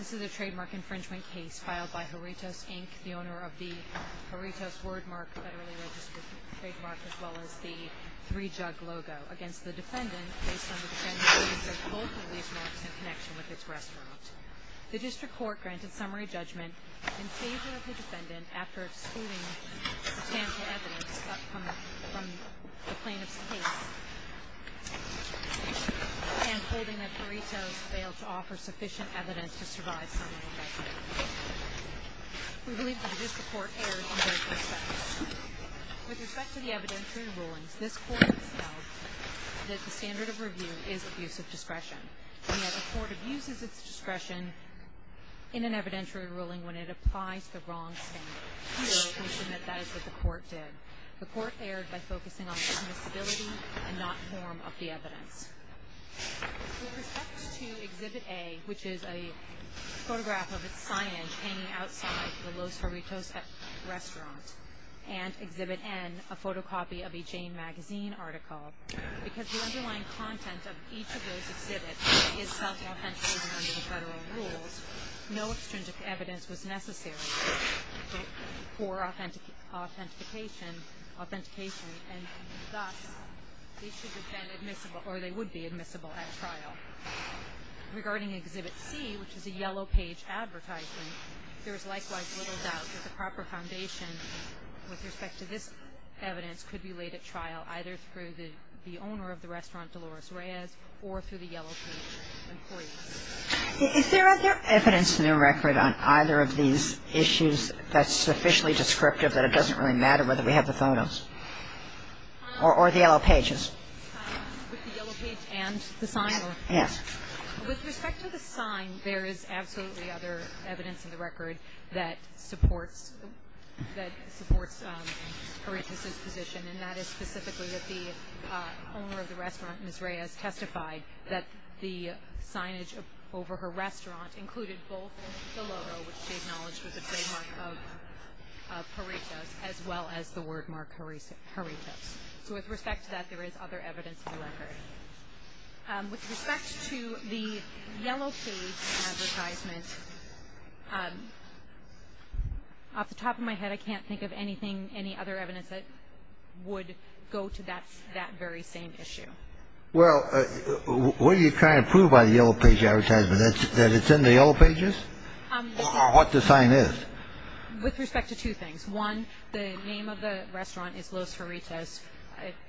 This is a trademark infringement case filed by Jarritos, Inc., the owner of the Jarritos wordmark federally registered trademark, as well as the 3jug logo, against the defendant based on the defendant's use of both of these marks in connection with its restaurant. The district court granted summary judgment in favor of the defendant after excluding substantial evidence from the plaintiff's case and holding that Jarritos failed to offer sufficient evidence to survive summary judgment. We believe that the district court erred in both respects. With respect to the evidentiary rulings, this court has held that the standard of review is abuse of discretion. Yet the court abuses its discretion in an evidentiary ruling when it applies the wrong standard. We submit that is what the court did. The court erred by focusing on dismissibility and not form of the evidence. With respect to Exhibit A, which is a photograph of its signage hanging outside the Los Jarritos restaurant, and Exhibit N, a photocopy of a Jane magazine article, because the underlying content of each of those exhibits is self-authentication under the federal rules, no extrinsic evidence was necessary for authentication, and thus they would be admissible at trial. Regarding Exhibit C, which is a yellow-page advertisement, there is likewise little doubt that the proper foundation with respect to this evidence could be laid at trial either through the owner of the restaurant, Dolores Reyes, or through the yellow-page employee. Is there other evidence in the record on either of these issues that's sufficiently descriptive that it doesn't really matter whether we have the photos or the yellow pages? With the yellow page and the sign? Yes. With respect to the sign, there is absolutely other evidence in the record that supports Jarritos' position, and that is specifically that the owner of the restaurant, Ms. Reyes, testified that the signage over her restaurant included both the logo, which she acknowledged was a trademark of Jarritos, as well as the wordmark, Jarritos. So with respect to that, there is other evidence in the record. With respect to the yellow-page advertisement, off the top of my head, I can't think of anything, any other evidence that would go to that very same issue. Well, what are you trying to prove by the yellow-page advertisement, that it's in the yellow pages, or what the sign is? With respect to two things. One, the name of the restaurant is Los Jarritos.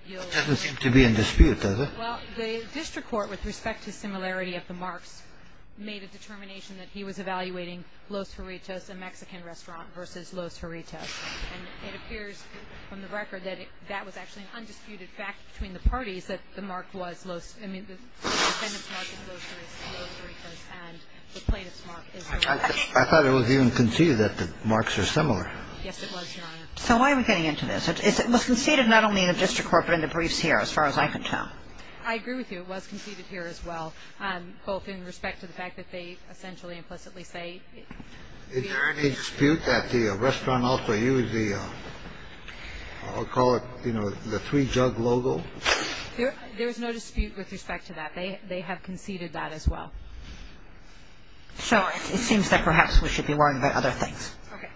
It doesn't seem to be in dispute, does it? Well, the district court, with respect to similarity of the marks, made a determination that he was evaluating Los Jarritos, a Mexican restaurant, versus Los Jarritos. And it appears from the record that that was actually an undisputed fact between the parties that the mark was Los – I mean, the defendant's mark is Los Jarritos, and the plaintiff's mark is Los Jarritos. I thought it was even conceded that the marks are similar. Yes, it was, Your Honor. So why are we getting into this? It was conceded not only in the district court, but in the briefs here, as far as I can tell. I agree with you. It was conceded here as well, both in respect to the fact that they essentially implicitly say – Is there any dispute that the restaurant also used the – I'll call it, you know, the three jug logo? There is no dispute with respect to that. They have conceded that as well. So it seems that perhaps we should be worrying about other things. Okay.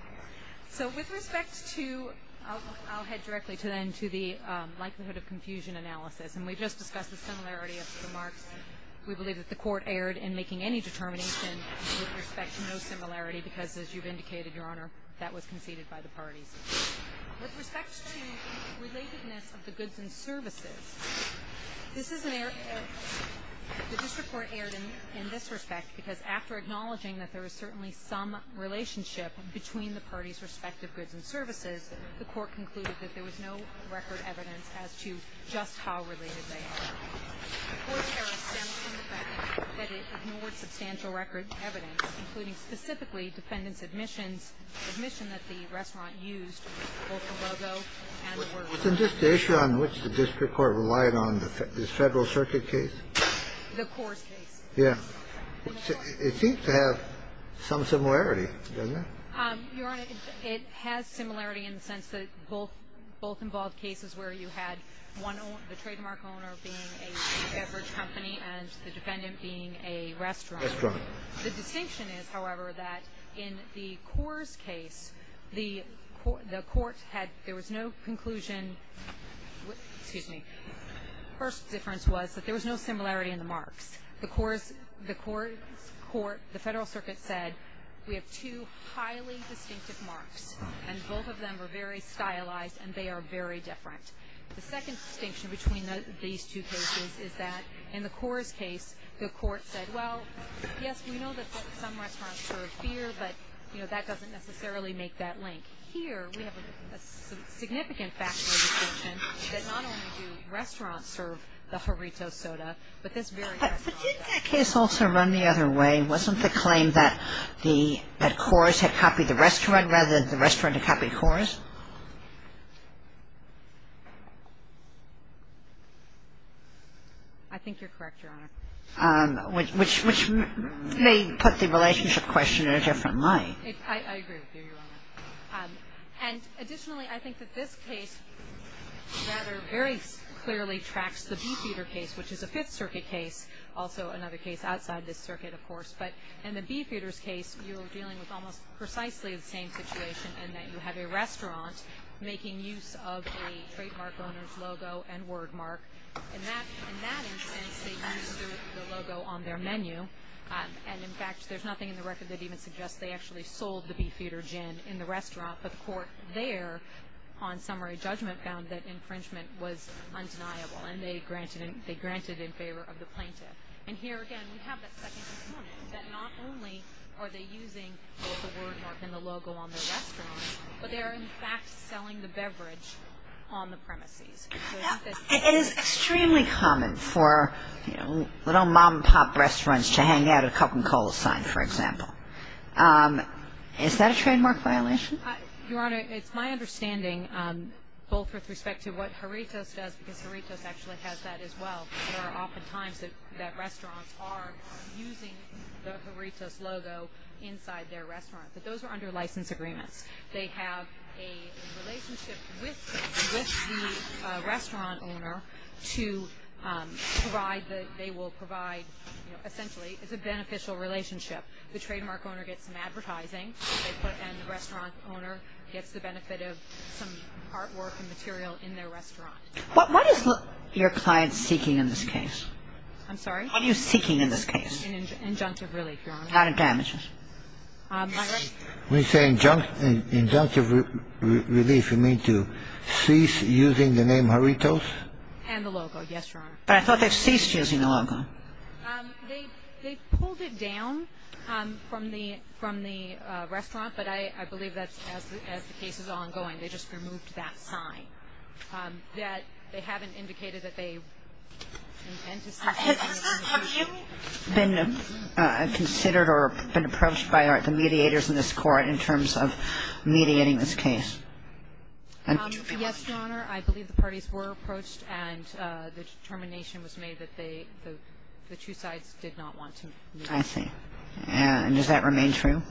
So with respect to – I'll head directly, then, to the likelihood of confusion analysis. And we just discussed the similarity of the marks. We believe that the court erred in making any determination with respect to no similarity because, as you've indicated, Your Honor, that was conceded by the parties. With respect to relatedness of the goods and services, this is an – the district court erred in this respect because, after acknowledging that there is certainly some relationship between the parties' respective goods and services, the court concluded that there was no record evidence as to just how related they are. The court error stems from the fact that it ignored substantial record evidence, including specifically defendants' admissions, admission that the restaurant used both the logo and the words. Wasn't this the issue on which the district court relied on, this Federal Circuit case? The Coors case. Yes. It seems to have some similarity, doesn't it? Your Honor, it has similarity in the sense that both – both involved cases where you had one – the trademark owner being a beverage company and the defendant being a restaurant. Restaurant. The distinction is, however, that in the Coors case, the court had – there was no conclusion – excuse me – first difference was that there was no similarity in the marks. The Coors – the court – the Federal Circuit said, we have two highly distinctive marks and both of them are very stylized and they are very different. The second distinction between these two cases is that in the Coors case, the court said, well, yes, we know that some restaurants serve beer, but that doesn't necessarily make that link. Here, we have a significant factual distinction that not only do restaurants serve beer, but they also serve the burrito soda. But this very – But didn't that case also run the other way? Wasn't the claim that the – that Coors had copied the restaurant rather than the restaurant had copied Coors? I think you're correct, Your Honor. Which may put the relationship question in a different light. I agree with you, Your Honor. And additionally, I think that this case rather very clearly tracks the Beefeater case, which is a Fifth Circuit case, also another case outside this circuit, of course. But in the Beefeater's case, you're dealing with almost precisely the same situation in that you have a restaurant making use of a trademark owner's logo and wordmark. In that instance, they used the logo on their menu. And, in fact, there's nothing in the record that even suggests they actually sold the drink in the restaurant. But the court there on summary judgment found that infringement was undeniable. And they granted in favor of the plaintiff. And here, again, we have that second component, that not only are they using both the wordmark and the logo on their restaurant, but they are, in fact, selling the beverage on the premises. It is extremely common for, you know, little mom-and-pop restaurants to hang out at a cup and cola sign, for example. Is that a trademark violation? Your Honor, it's my understanding, both with respect to what Jarritos does, because Jarritos actually has that as well, there are often times that restaurants are using the Jarritos logo inside their restaurant. But those are under license agreements. They have a relationship with the restaurant owner to provide the – they will provide – you know, essentially, it's a beneficial relationship. The trademark owner gets some advertising, and the restaurant owner gets the benefit of some artwork and material in their restaurant. What is your client seeking in this case? I'm sorry? What are you seeking in this case? An injunctive relief, Your Honor. Not a damages. My right? When you say injunctive relief, you mean to cease using the name Jarritos? And the logo, yes, Your Honor. But I thought they ceased using the logo. They pulled it down from the restaurant, but I believe that as the case is ongoing, they just removed that sign. They haven't indicated that they intend to cease using the name. Have you been considered or been approached by the mediators in this court in terms of mediating this case? Yes, Your Honor, I believe the parties were approached, and the determination was made that the two sides did not want to mediate. I see. And does that remain true?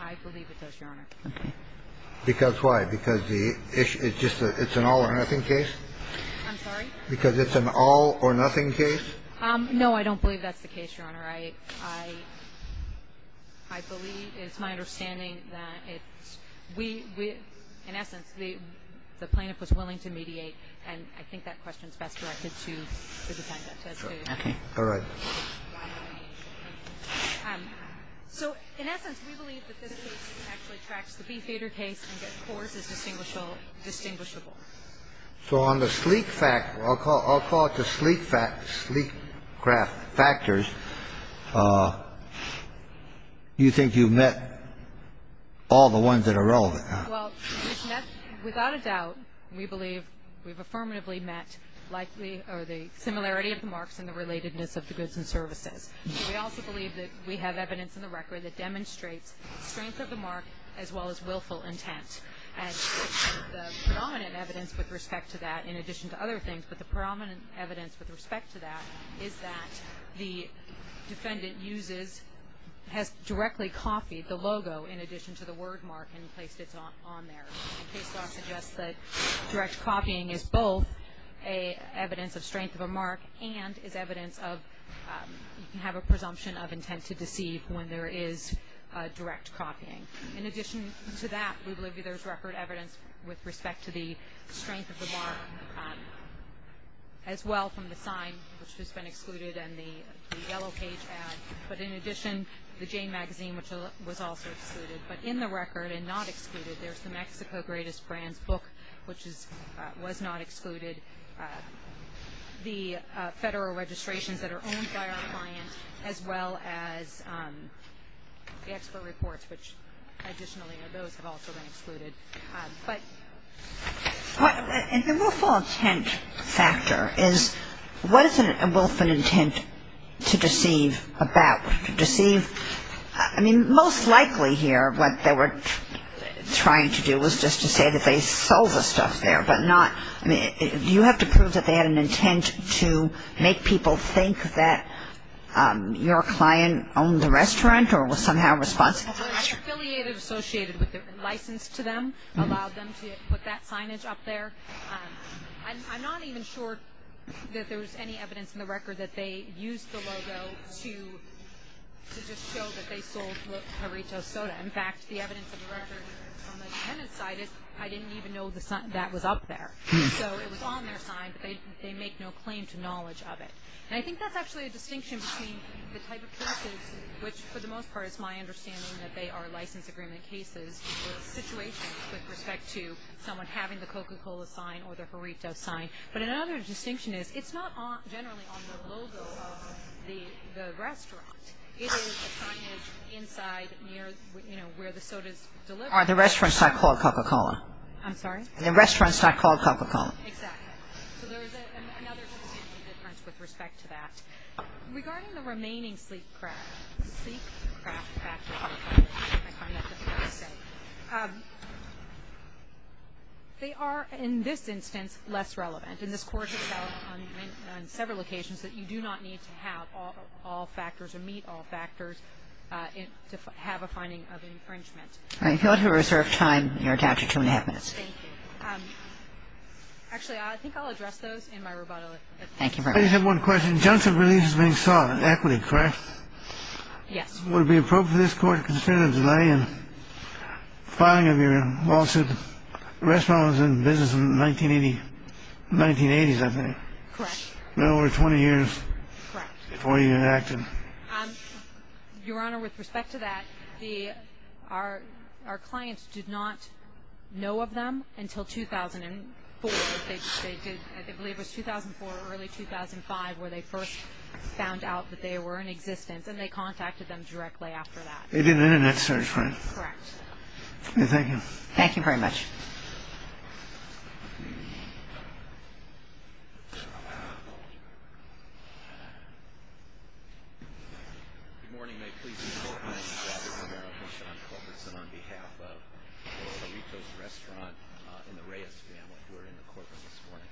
I believe it does, Your Honor. Okay. Because why? Because it's just an all-or-nothing case? I'm sorry? Because it's an all-or-nothing case? No, I don't believe that's the case, Your Honor. I believe, it's my understanding that it's – we – in essence, the plaintiff was willing to mediate, and I think that question is best directed to the defendant. Okay. All right. So in essence, we believe that this case actually tracks the Bee Theater case and that Coors is distinguishable. So on the sleek – I'll call it the sleek factors – you think you've met all the ones that are relevant? Well, without a doubt, we believe we've affirmatively met likely – or the similarity of the marks and the relatedness of the goods and services. We also believe that we have evidence in the record that demonstrates strength of the mark as well as willful intent. And the predominant evidence with respect to that, in addition to other things, but the predominant evidence with respect to that is that the defendant uses – has directly copied the logo in addition to the word mark and placed it on there. Case law suggests that direct copying is both evidence of strength of a mark and is evidence of – you can have a presumption of intent to deceive when there is direct copying. In addition to that, we believe there's record evidence with respect to the strength of the mark as well from the sign, which has been excluded, and the yellow page ad. But in addition, the Jane magazine, which was also excluded. But in the record and not excluded, there's the Mexico Greatest Brands book, which was not excluded. The federal registrations that are owned by our client as well as the expert reports, which additionally are those that have also been excluded. And the willful intent factor is what is a willful intent to deceive about? To deceive – I mean, most likely here what they were trying to do was just to say that they sold the stuff there, but not – I mean, do you have to prove that they had an intent to make people think that your client owned the restaurant or was somehow responsible for the restaurant? The affiliative associated with the license to them allowed them to put that signage up there. I'm not even sure that there was any evidence in the record that they used the logo to just show that they sold Marito's Soda. In fact, the evidence of the record on the defendant's side is I didn't even know that was up there. So it was on their sign, but they make no claim to knowledge of it. And I think that's actually a distinction between the type of cases, which for the most part it's my understanding that they are license agreement cases with situations with respect to someone having the Coca-Cola sign or the Marito sign. But another distinction is it's not generally on the logo of the restaurant. It is a signage inside near, you know, where the soda's delivered. The restaurant's not called Coca-Cola. I'm sorry? The restaurant's not called Coca-Cola. Exactly. So there's another distinction difference with respect to that. Regarding the remaining sleep-craft factors, they are, in this instance, less relevant. And this court has found on several occasions that you do not need to have all factors or meet all factors to have a finding of infringement. All right. If you want to reserve time, you're attached to two and a half minutes. Thank you. Actually, I think I'll address those in my rebuttal. Thank you very much. I just have one question. Johnson Relief is being sought, an equity, correct? Yes. Would it be appropriate for this court to consider the delay in filing of your lawsuit? The restaurant was in business in the 1980s, I think. Correct. A little over 20 years before you enacted. Your Honor, with respect to that, our clients did not know of them until 2004. I believe it was 2004 or early 2005 where they first found out that they were in existence, and they contacted them directly after that. They did an Internet search, right? Correct. Thank you. Thank you very much. Good morning. May it please the Court, my name is Robert Romero. I'm Sean Corcoran. I'm on behalf of Rito's Restaurant and the Reyes family who are in the courtroom this morning.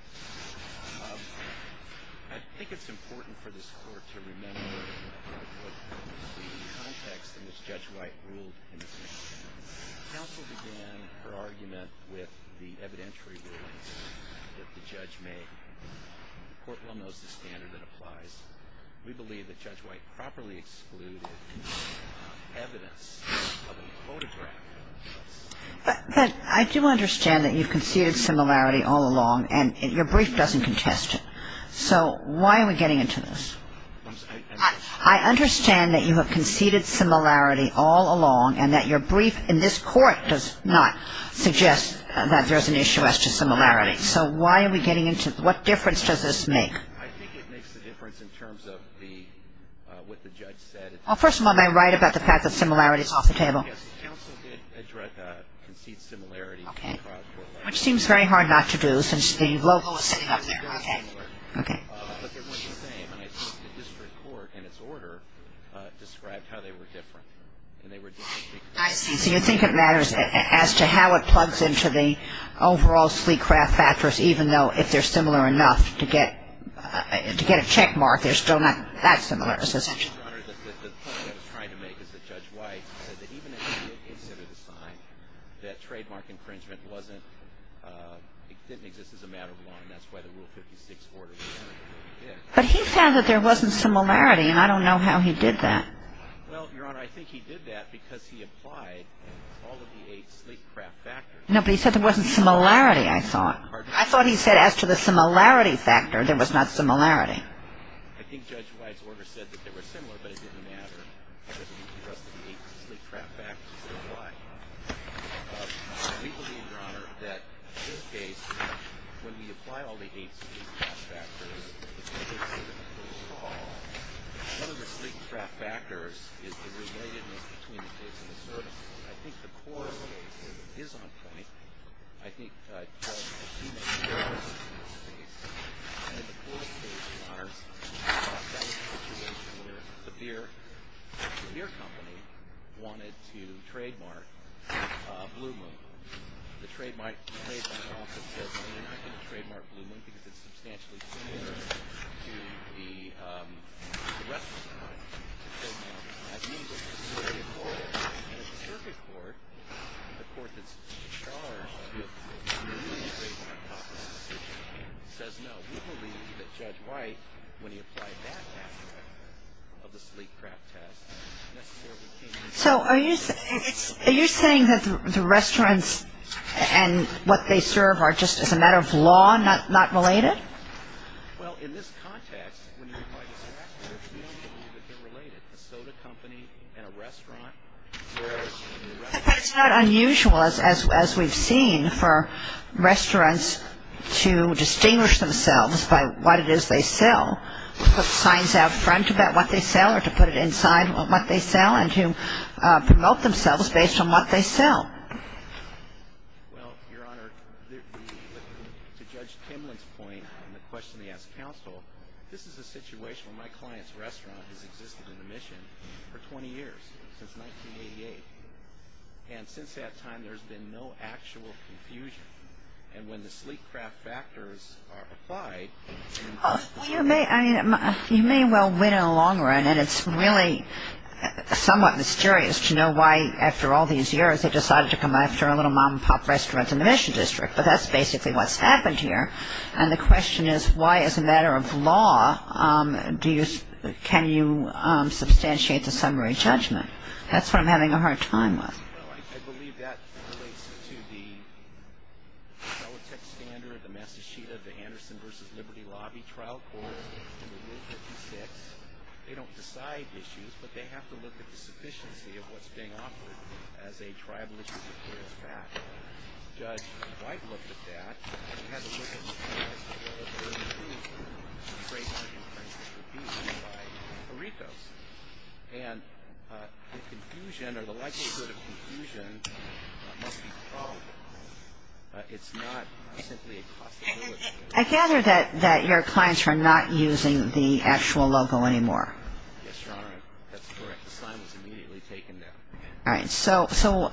I think it's important for this Court to remember the context in which Judge White ruled in this case. Counsel began her argument with the evidentiary rulings that the judge made. The Court well knows the standard that applies. We believe that Judge White properly excluded evidence of a photograph. But I do understand that you've conceded similarity all along, and your brief doesn't contest it. So why are we getting into this? I understand that you have conceded similarity all along, and that your brief in this Court does not suggest that there's an issue as to similarity. So why are we getting into this? What difference does this make? I think it makes a difference in terms of what the judge said. Well, first of all, am I right about the fact that similarity is off the table? Yes, counsel did concede similarity. Okay. Which seems very hard not to do since the logo is sitting up there. Okay. But they weren't the same. And I think the district court, in its order, described how they were different. And they were different because of that. I see. So you think it matters as to how it plugs into the overall sleek craft factors, even though if they're similar enough to get a checkmark, they're still not that similar. The point I was trying to make is that Judge White said that even if she did consider the sign, that trademark infringement didn't exist as a matter of law, But he said that there wasn't similarity, and I don't know how he did that. Well, Your Honor, I think he did that because he applied all of the eight sleek craft factors. No, but he said there wasn't similarity, I thought. I thought he said as to the similarity factor, there was not similarity. I think Judge White's order said that they were similar, but it didn't matter because he trusted the eight sleek craft factors. So why? We believe, Your Honor, that in this case, when we apply all the eight sleek craft factors, one of the sleek craft factors is the relatedness between the case and the service. I think the court is on plenty. I think Judge Hume, in this case, in the court case, Your Honor, thought that was the situation where the beer company wanted to trademark Blue Moon. The trademarking office says that they're not going to trademark Blue Moon because it's substantially similar to the rest of the country. That means that the circuit court, the court that's in charge, says no. We believe that Judge White, when he applied that factor of the sleek craft test, necessarily came to the conclusion that the beer company wanted to trademark Blue Moon. So are you saying that the restaurants and what they serve are just as a matter of law not related? Well, in this context, when you apply this factor, we don't believe that they're related. The soda company and a restaurant. It's not unusual, as we've seen, for restaurants to distinguish themselves by what it is they sell, put signs out front about what they sell or to put it inside what they sell and to promote themselves based on what they sell. Well, Your Honor, to Judge Kimlin's point on the question he asked counsel, this is a situation where my client's restaurant has existed in admission for 20 years, since 1988. And since that time, there's been no actual confusion. And when the sleek craft factors are applied... Well, you may well win in the long run, and it's really somewhat mysterious to know why, after all these years, they decided to come after a little mom-and-pop restaurant in the Mission District. But that's basically what's happened here. And the question is, why, as a matter of law, can you substantiate the summary judgment? That's what I'm having a hard time with. Well, I believe that relates to the Solitec standard, the Massacheta, the Anderson v. Liberty Lobby trial court in Rule 56. They don't decide issues, but they have to look at the sufficiency of what's being offered as a tribal issue. Judge White looked at that. And he had to look at the case of the Burden of Truth, which is a trademark infringement review by Aretos. And the confusion or the likelihood of confusion must be probable. It's not simply a possibility. I gather that your clients are not using the actual logo anymore. Yes, Your Honor. That's correct. The sign was immediately taken down. All right. So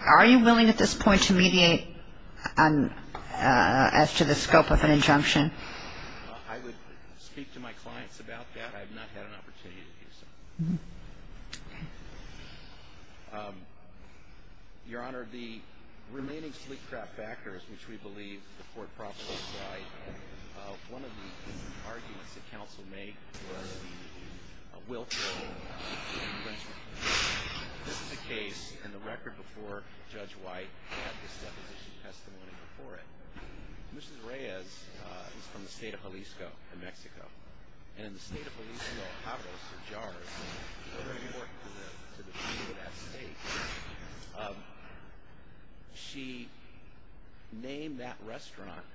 are you willing at this point to mediate as to the scope of an injunction? I would speak to my clients about that. I have not had an opportunity to do so. Your Honor, the remaining sleep-trapped backers, which we believe the court profits from, one of the arguments that counsel made was the willful infringement. This is a case in the record before Judge White had this deposition testimony before it. Mrs. Reyes is from the state of Jalisco in Mexico. And in the state of Jalisco, she named that restaurant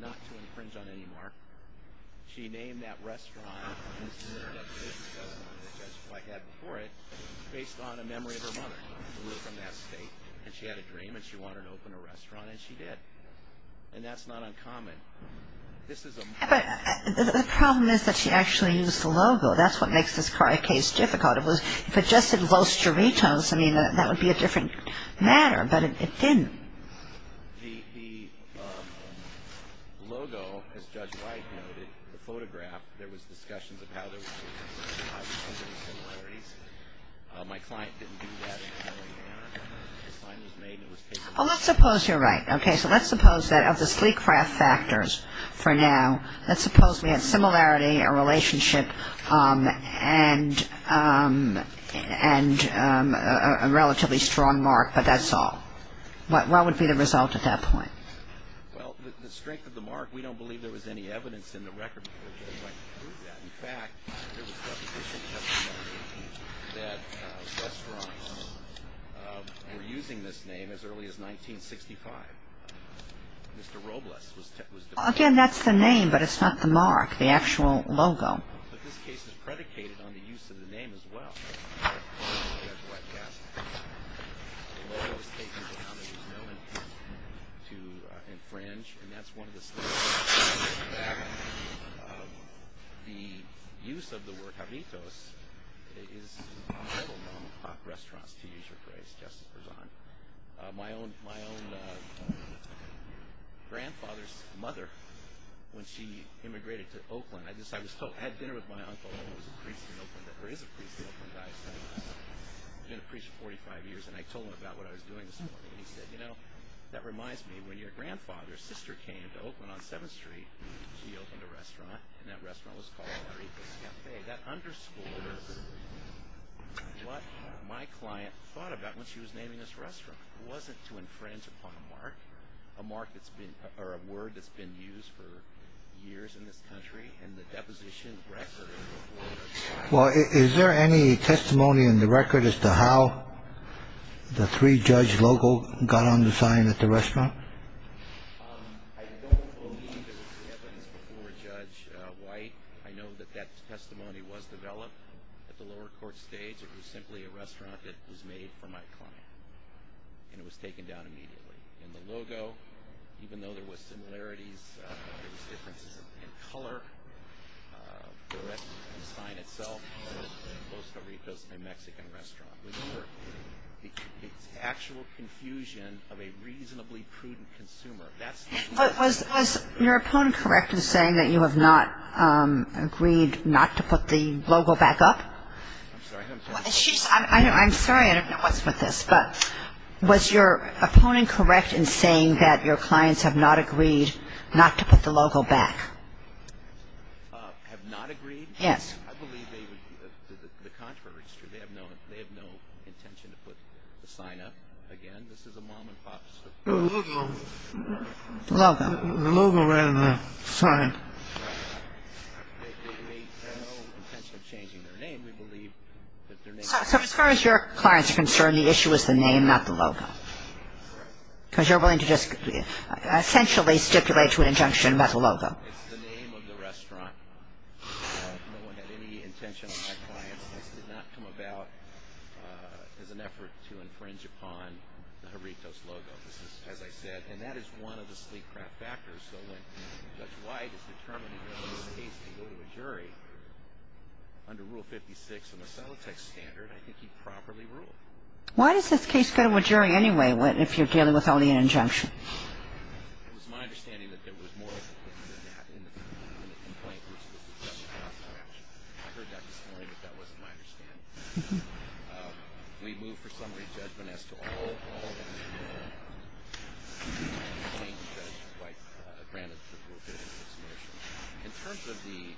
not to infringe on anymore. She named that restaurant based on a memory of her mother who lived in that state. And she had a dream, and she wanted to open a restaurant, and she did. And that's not uncommon. But the problem is that she actually used the logo. That's what makes this case difficult. If it just said Los Doritos, I mean, that would be a different matter. But it didn't. The logo, as Judge White noted, the photograph, there was discussions of how there was similarities. My client didn't do that. The sign was made and it was taken down. Well, let's suppose you're right. Okay. So let's suppose that of the sleek craft factors for now, let's suppose we had similarity, a relationship, and a relatively strong mark, but that's all. What would be the result at that point? Well, the strength of the mark, we don't believe there was any evidence in the record before Judge White proved that. In fact, there was reputational testimony that restaurants were using this name as early as 1965. Mr. Robles was deposed. Again, that's the name, but it's not the mark, the actual logo. But this case is predicated on the use of the name as well. Judge White cast all those statements down. There was no intent to infringe. And that's one of the things that I take back. The use of the word Javitos is an awful number of restaurants, to use your phrase, just for fun. My own grandfather's mother, when she immigrated to Oakland, I had dinner with my uncle, who was a priest in Oakland, or is a priest in Oakland, I've been a priest for 45 years, and I told him about what I was doing this morning, and he said, you know, that reminds me, when your grandfather's sister came to Oakland on 7th Street, she opened a restaurant, and that restaurant was called Javitos Cafe. That underscores what my client thought about when she was naming this restaurant. It wasn't to infringe upon a mark, or a word that's been used for years in this country, and the deposition record before that time. Well, is there any testimony in the record as to how the three-judge logo got on the sign at the restaurant? I don't believe there was any evidence before Judge White. I know that that testimony was developed at the lower court stage. It was simply a restaurant that was made for my client, and it was taken down immediately. In the logo, even though there was similarities, there was differences in color, the rest of the sign itself was Los Doritos, a Mexican restaurant. It's actual confusion of a reasonably prudent consumer. Was your opponent correct in saying that you have not agreed not to put the logo back up? I'm sorry, I don't know what's with this. But was your opponent correct in saying that your clients have not agreed not to put the logo back? Have not agreed? Yes. I believe the contrary is true. They have no intention to put the sign up again. This is a mom-and-pop situation. The logo ran on the sign. They have no intention of changing their name. So as far as your clients are concerned, the issue is the name, not the logo? Because you're willing to just essentially stipulate to an injunction about the logo. It's the name of the restaurant. No one had any intention on my client's part. This did not come about as an effort to infringe upon the Joritos logo. This is, as I said, and that is one of the sleep craft factors. Why does this case go to a jury anyway if you're dealing with only an injunction? It was my understanding that there was more than that in the complaint. I heard that this morning, but that wasn't my understanding. We moved for summary judgment as to all of them. In terms of the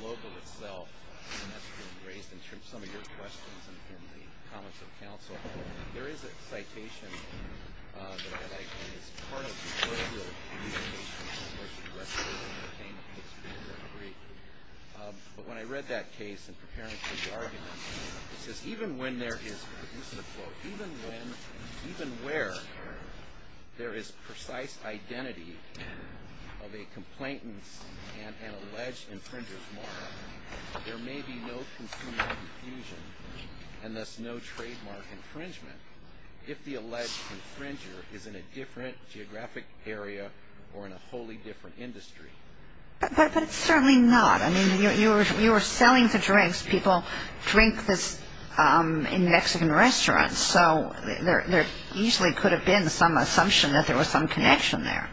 logo itself, and that's been raised in some of your questions and in the comments of counsel, there is a citation that I think is part of the original motion that came to this jury. But when I read that case in preparing for the argument, it says, even when there is, and this is a quote, even when, even where there is precise identity of a complainant's and an alleged infringer's mark, there may be no consumer confusion and thus no trademark infringement if the alleged infringer is in a different geographic area or in a wholly different industry. But it's certainly not. I mean, you were selling the drinks. People drink this in Mexican restaurants, so there easily could have been some assumption that there was some connection there.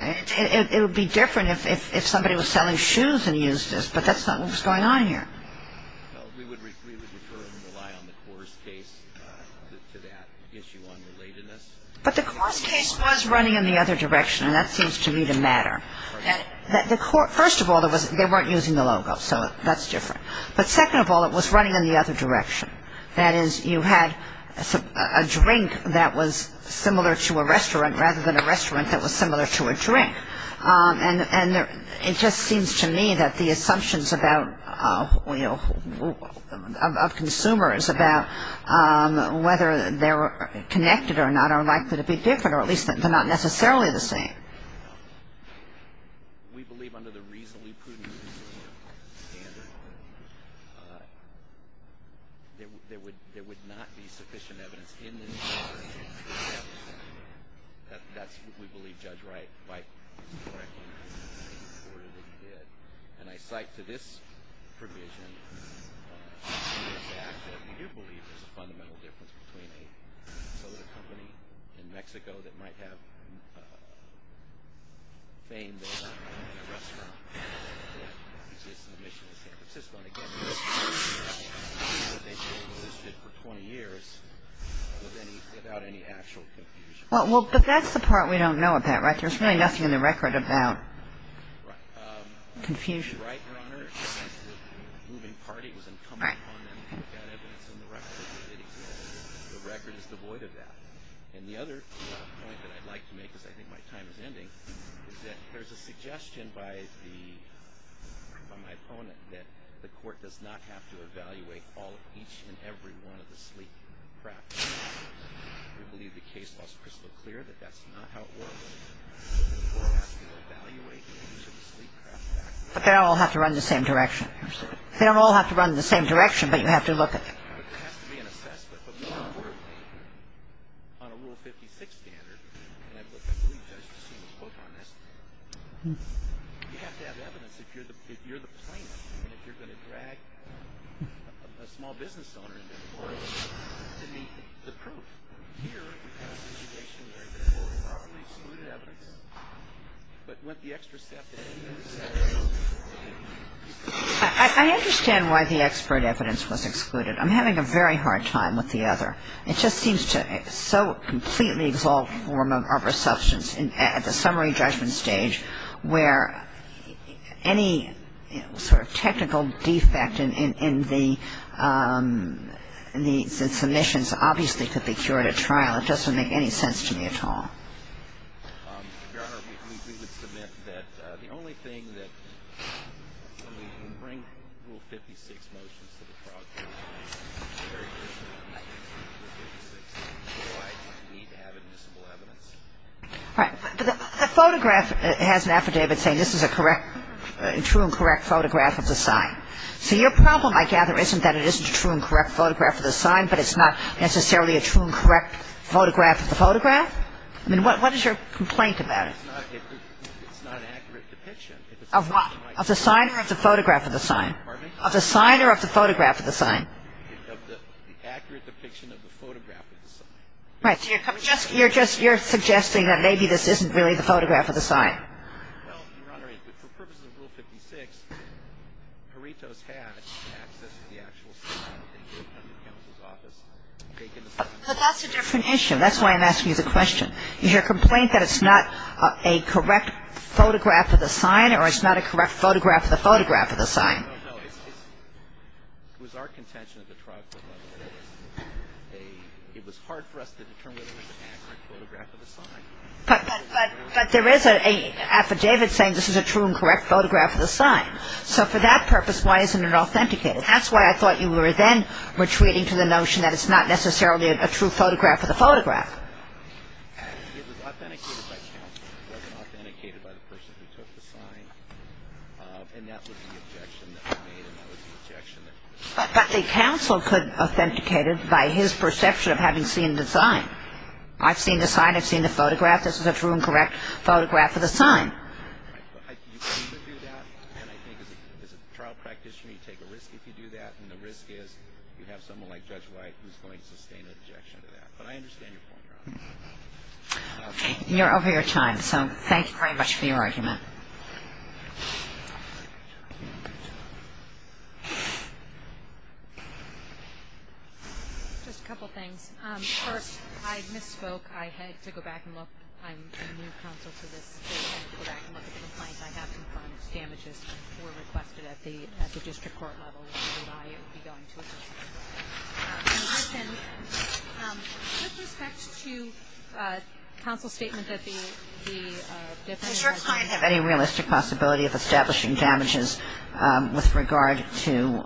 It would be different if somebody was selling shoes and used this, but that's not what was going on here. But the course case was running in the other direction, and that seems to me to matter. First of all, they weren't using the logo, so that's different. But second of all, it was running in the other direction. That is, you had a drink that was similar to a restaurant rather than a restaurant that was similar to a drink. And it just seems to me that the assumptions of consumers about whether they're connected or not are likely to be different, or at least they're not necessarily the same. We believe, under the reasonably prudent standard, there would not be sufficient evidence in this court that that's what we believe Judge Wright is correctly reporting that he did. And I cite to this provision that we do believe there's a fundamental difference between a soda company in Mexico that might have fame there and a restaurant that exists in the mission of San Francisco. And again, the risk is that they've been listed for 20 years without any actual confusion. Well, but that's the part we don't know about, right? There's really nothing in the record about confusion. Judge Wright, Your Honor, the moving party was incumbent upon them to put that evidence in the record. The record is devoid of that. And the other point that I'd like to make, because I think my time is ending, is that there's a suggestion by my opponent that the court does not have to evaluate each and every one of the sleep craft factors. We believe the case law is crystal clear that that's not how it works. The court has to evaluate each of the sleep craft factors. But they don't all have to run in the same direction. They don't all have to run in the same direction, but you have to look at them. But there has to be an assessment. But we don't work on a Rule 56 standard. And I've looked at the lead judges who seem to quote on this. You have to have evidence if you're the plaintiff and if you're going to drag a small business owner into the courtroom to meet the proof. I understand why the expert evidence was excluded. I'm having a very hard time with the other. It just seems to so completely exalt form of resubstance at the summary judgment stage where any sort of technical defect in the submissions obviously could be cured. I don't think it makes any sense to me at all. Your Honor, we would submit that the only thing that we can bring Rule 56 motions to the program is the very question of Rule 56 and why we need to have admissible evidence. All right. The photograph has an affidavit saying this is a correct, true and correct photograph of the sign. So your problem, I gather, isn't that it isn't a true and correct photograph of the sign, but it's not necessarily a true and correct photograph of the photograph? I mean, what is your complaint about it? It's not an accurate depiction. Of what? Of the sign or of the photograph of the sign? Pardon me? Of the sign or of the photograph of the sign? Of the accurate depiction of the photograph of the sign. So you're suggesting that maybe this isn't really the photograph of the sign? Well, Your Honor, for purposes of Rule 56, Perritos had access to the actual sign. It came from the counsel's office. But that's a different issue. That's why I'm asking you the question. Is your complaint that it's not a correct photograph of the sign, or it's not a correct photograph of the photograph of the sign? No, no. It was our contention at the trial court level that it was hard for us to determine whether it was an accurate photograph of the sign. But there is an affidavit saying this is a true and correct photograph of the sign. So for that purpose, why isn't it authenticated? That's why I thought you were then retreating to the notion that it's not necessarily a true photograph of the photograph. But the counsel could authenticate it by his perception of having seen the sign. I've seen the sign. I've seen the photograph. This is a true and correct photograph of the sign. Okay. You're over your time. So thank you very much for your argument. Thank you. Just a couple things. First, I misspoke. I had to go back and look. I'm a new counsel to this case. I had to go back and look at the complaint. I have some findings. Damages were requested at the district court level, which is why it would be going to a district court level. And listen, with respect to counsel's statement that the defendant has any realistic possibility of establishing damages with regard to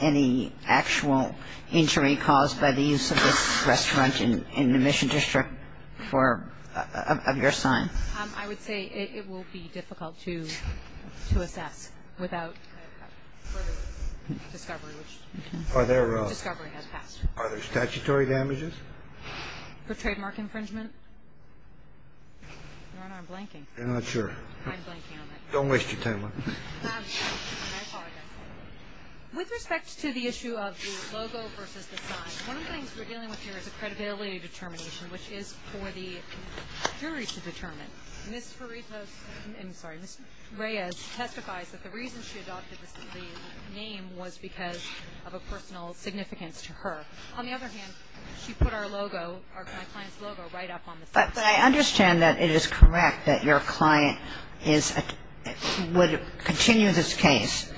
any actual injury caused by the use of this restaurant in the Mission District of your sign. I would say it will be difficult to assess without further discovery, which the discovery has passed. Are there statutory damages? For trademark infringement? Your Honor, I'm blanking. You're not sure. I'm blanking on that. Don't waste your time. I apologize. With respect to the issue of the logo versus the sign, one of the things we're dealing with here is a credibility determination, which is for the jury to determine. Ms. Ferrito's – I'm sorry. Ms. Reyes testifies that the reason she adopted the name was because of a personal significance to her. On the other hand, she put our logo, my client's logo, right up on the sign. But I understand that it is correct that your client is – would continue this case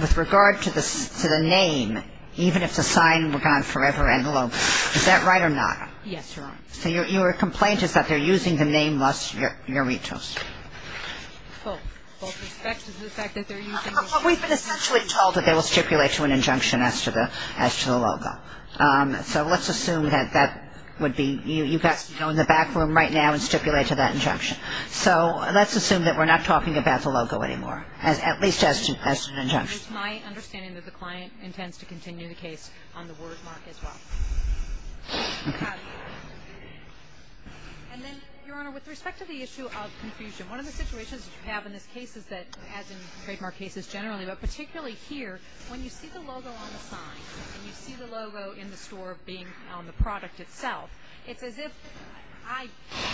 with regard to the name, even if the sign were gone forever and the logo. Is that right or not? Yes, Your Honor. So your complaint is that they're using the name, thus your retros. Well, we've been essentially told that they will stipulate to an injunction as to the logo. So let's assume that that would be – you've got to go in the back room right now and stipulate to that injunction. So let's assume that we're not talking about the logo anymore, at least as to the injunction. It's my understanding that the client intends to continue the case on the word mark as well. And then, Your Honor, with respect to the issue of confusion, one of the situations that you have in this case is that, as in trademark cases generally, but particularly here, when you see the logo on the sign and you see the logo in the store being on the product itself, it's as if – I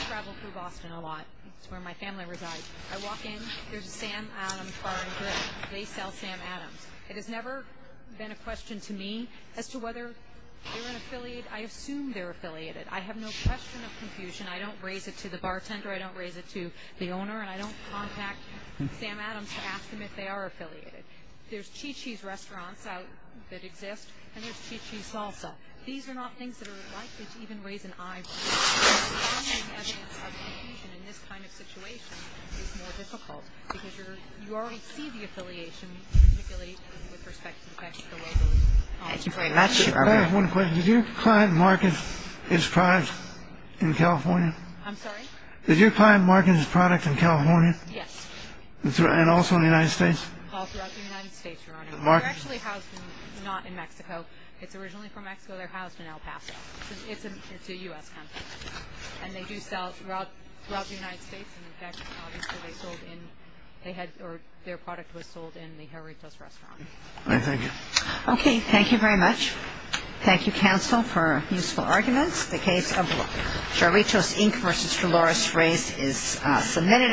travel through Boston a lot. It's where my family resides. I walk in, there's a Sam Adams bar and grill. They sell Sam Adams. It has never been a question to me as to whether they're an affiliate. I assume they're affiliated. I have no question of confusion. I don't raise it to the bartender. I don't raise it to the owner. And I don't contact Sam Adams to ask them if they are affiliated. There's Chi-Chi's restaurants that exist, and there's Chi-Chi's salsa. These are not things that are likely to even raise an eye. So finding evidence of confusion in this kind of situation is more difficult because you already see the affiliation, particularly with respect to the text of the logo. Thank you very much, Your Honor. Can I ask one question? Does your client market his product in California? I'm sorry? Does your client market his product in California? Yes. And also in the United States? All throughout the United States, Your Honor. They're actually housed not in Mexico. It's originally from Mexico. They're housed in El Paso. It's a U.S. company. And they do sell throughout the United States. And, in fact, obviously they sold in or their product was sold in the Jarritos restaurant. All right. Thank you. Okay. Thank you very much. Thank you, counsel, for useful arguments. The case of Jarritos, Inc. v. Dolores Reyes is submitted.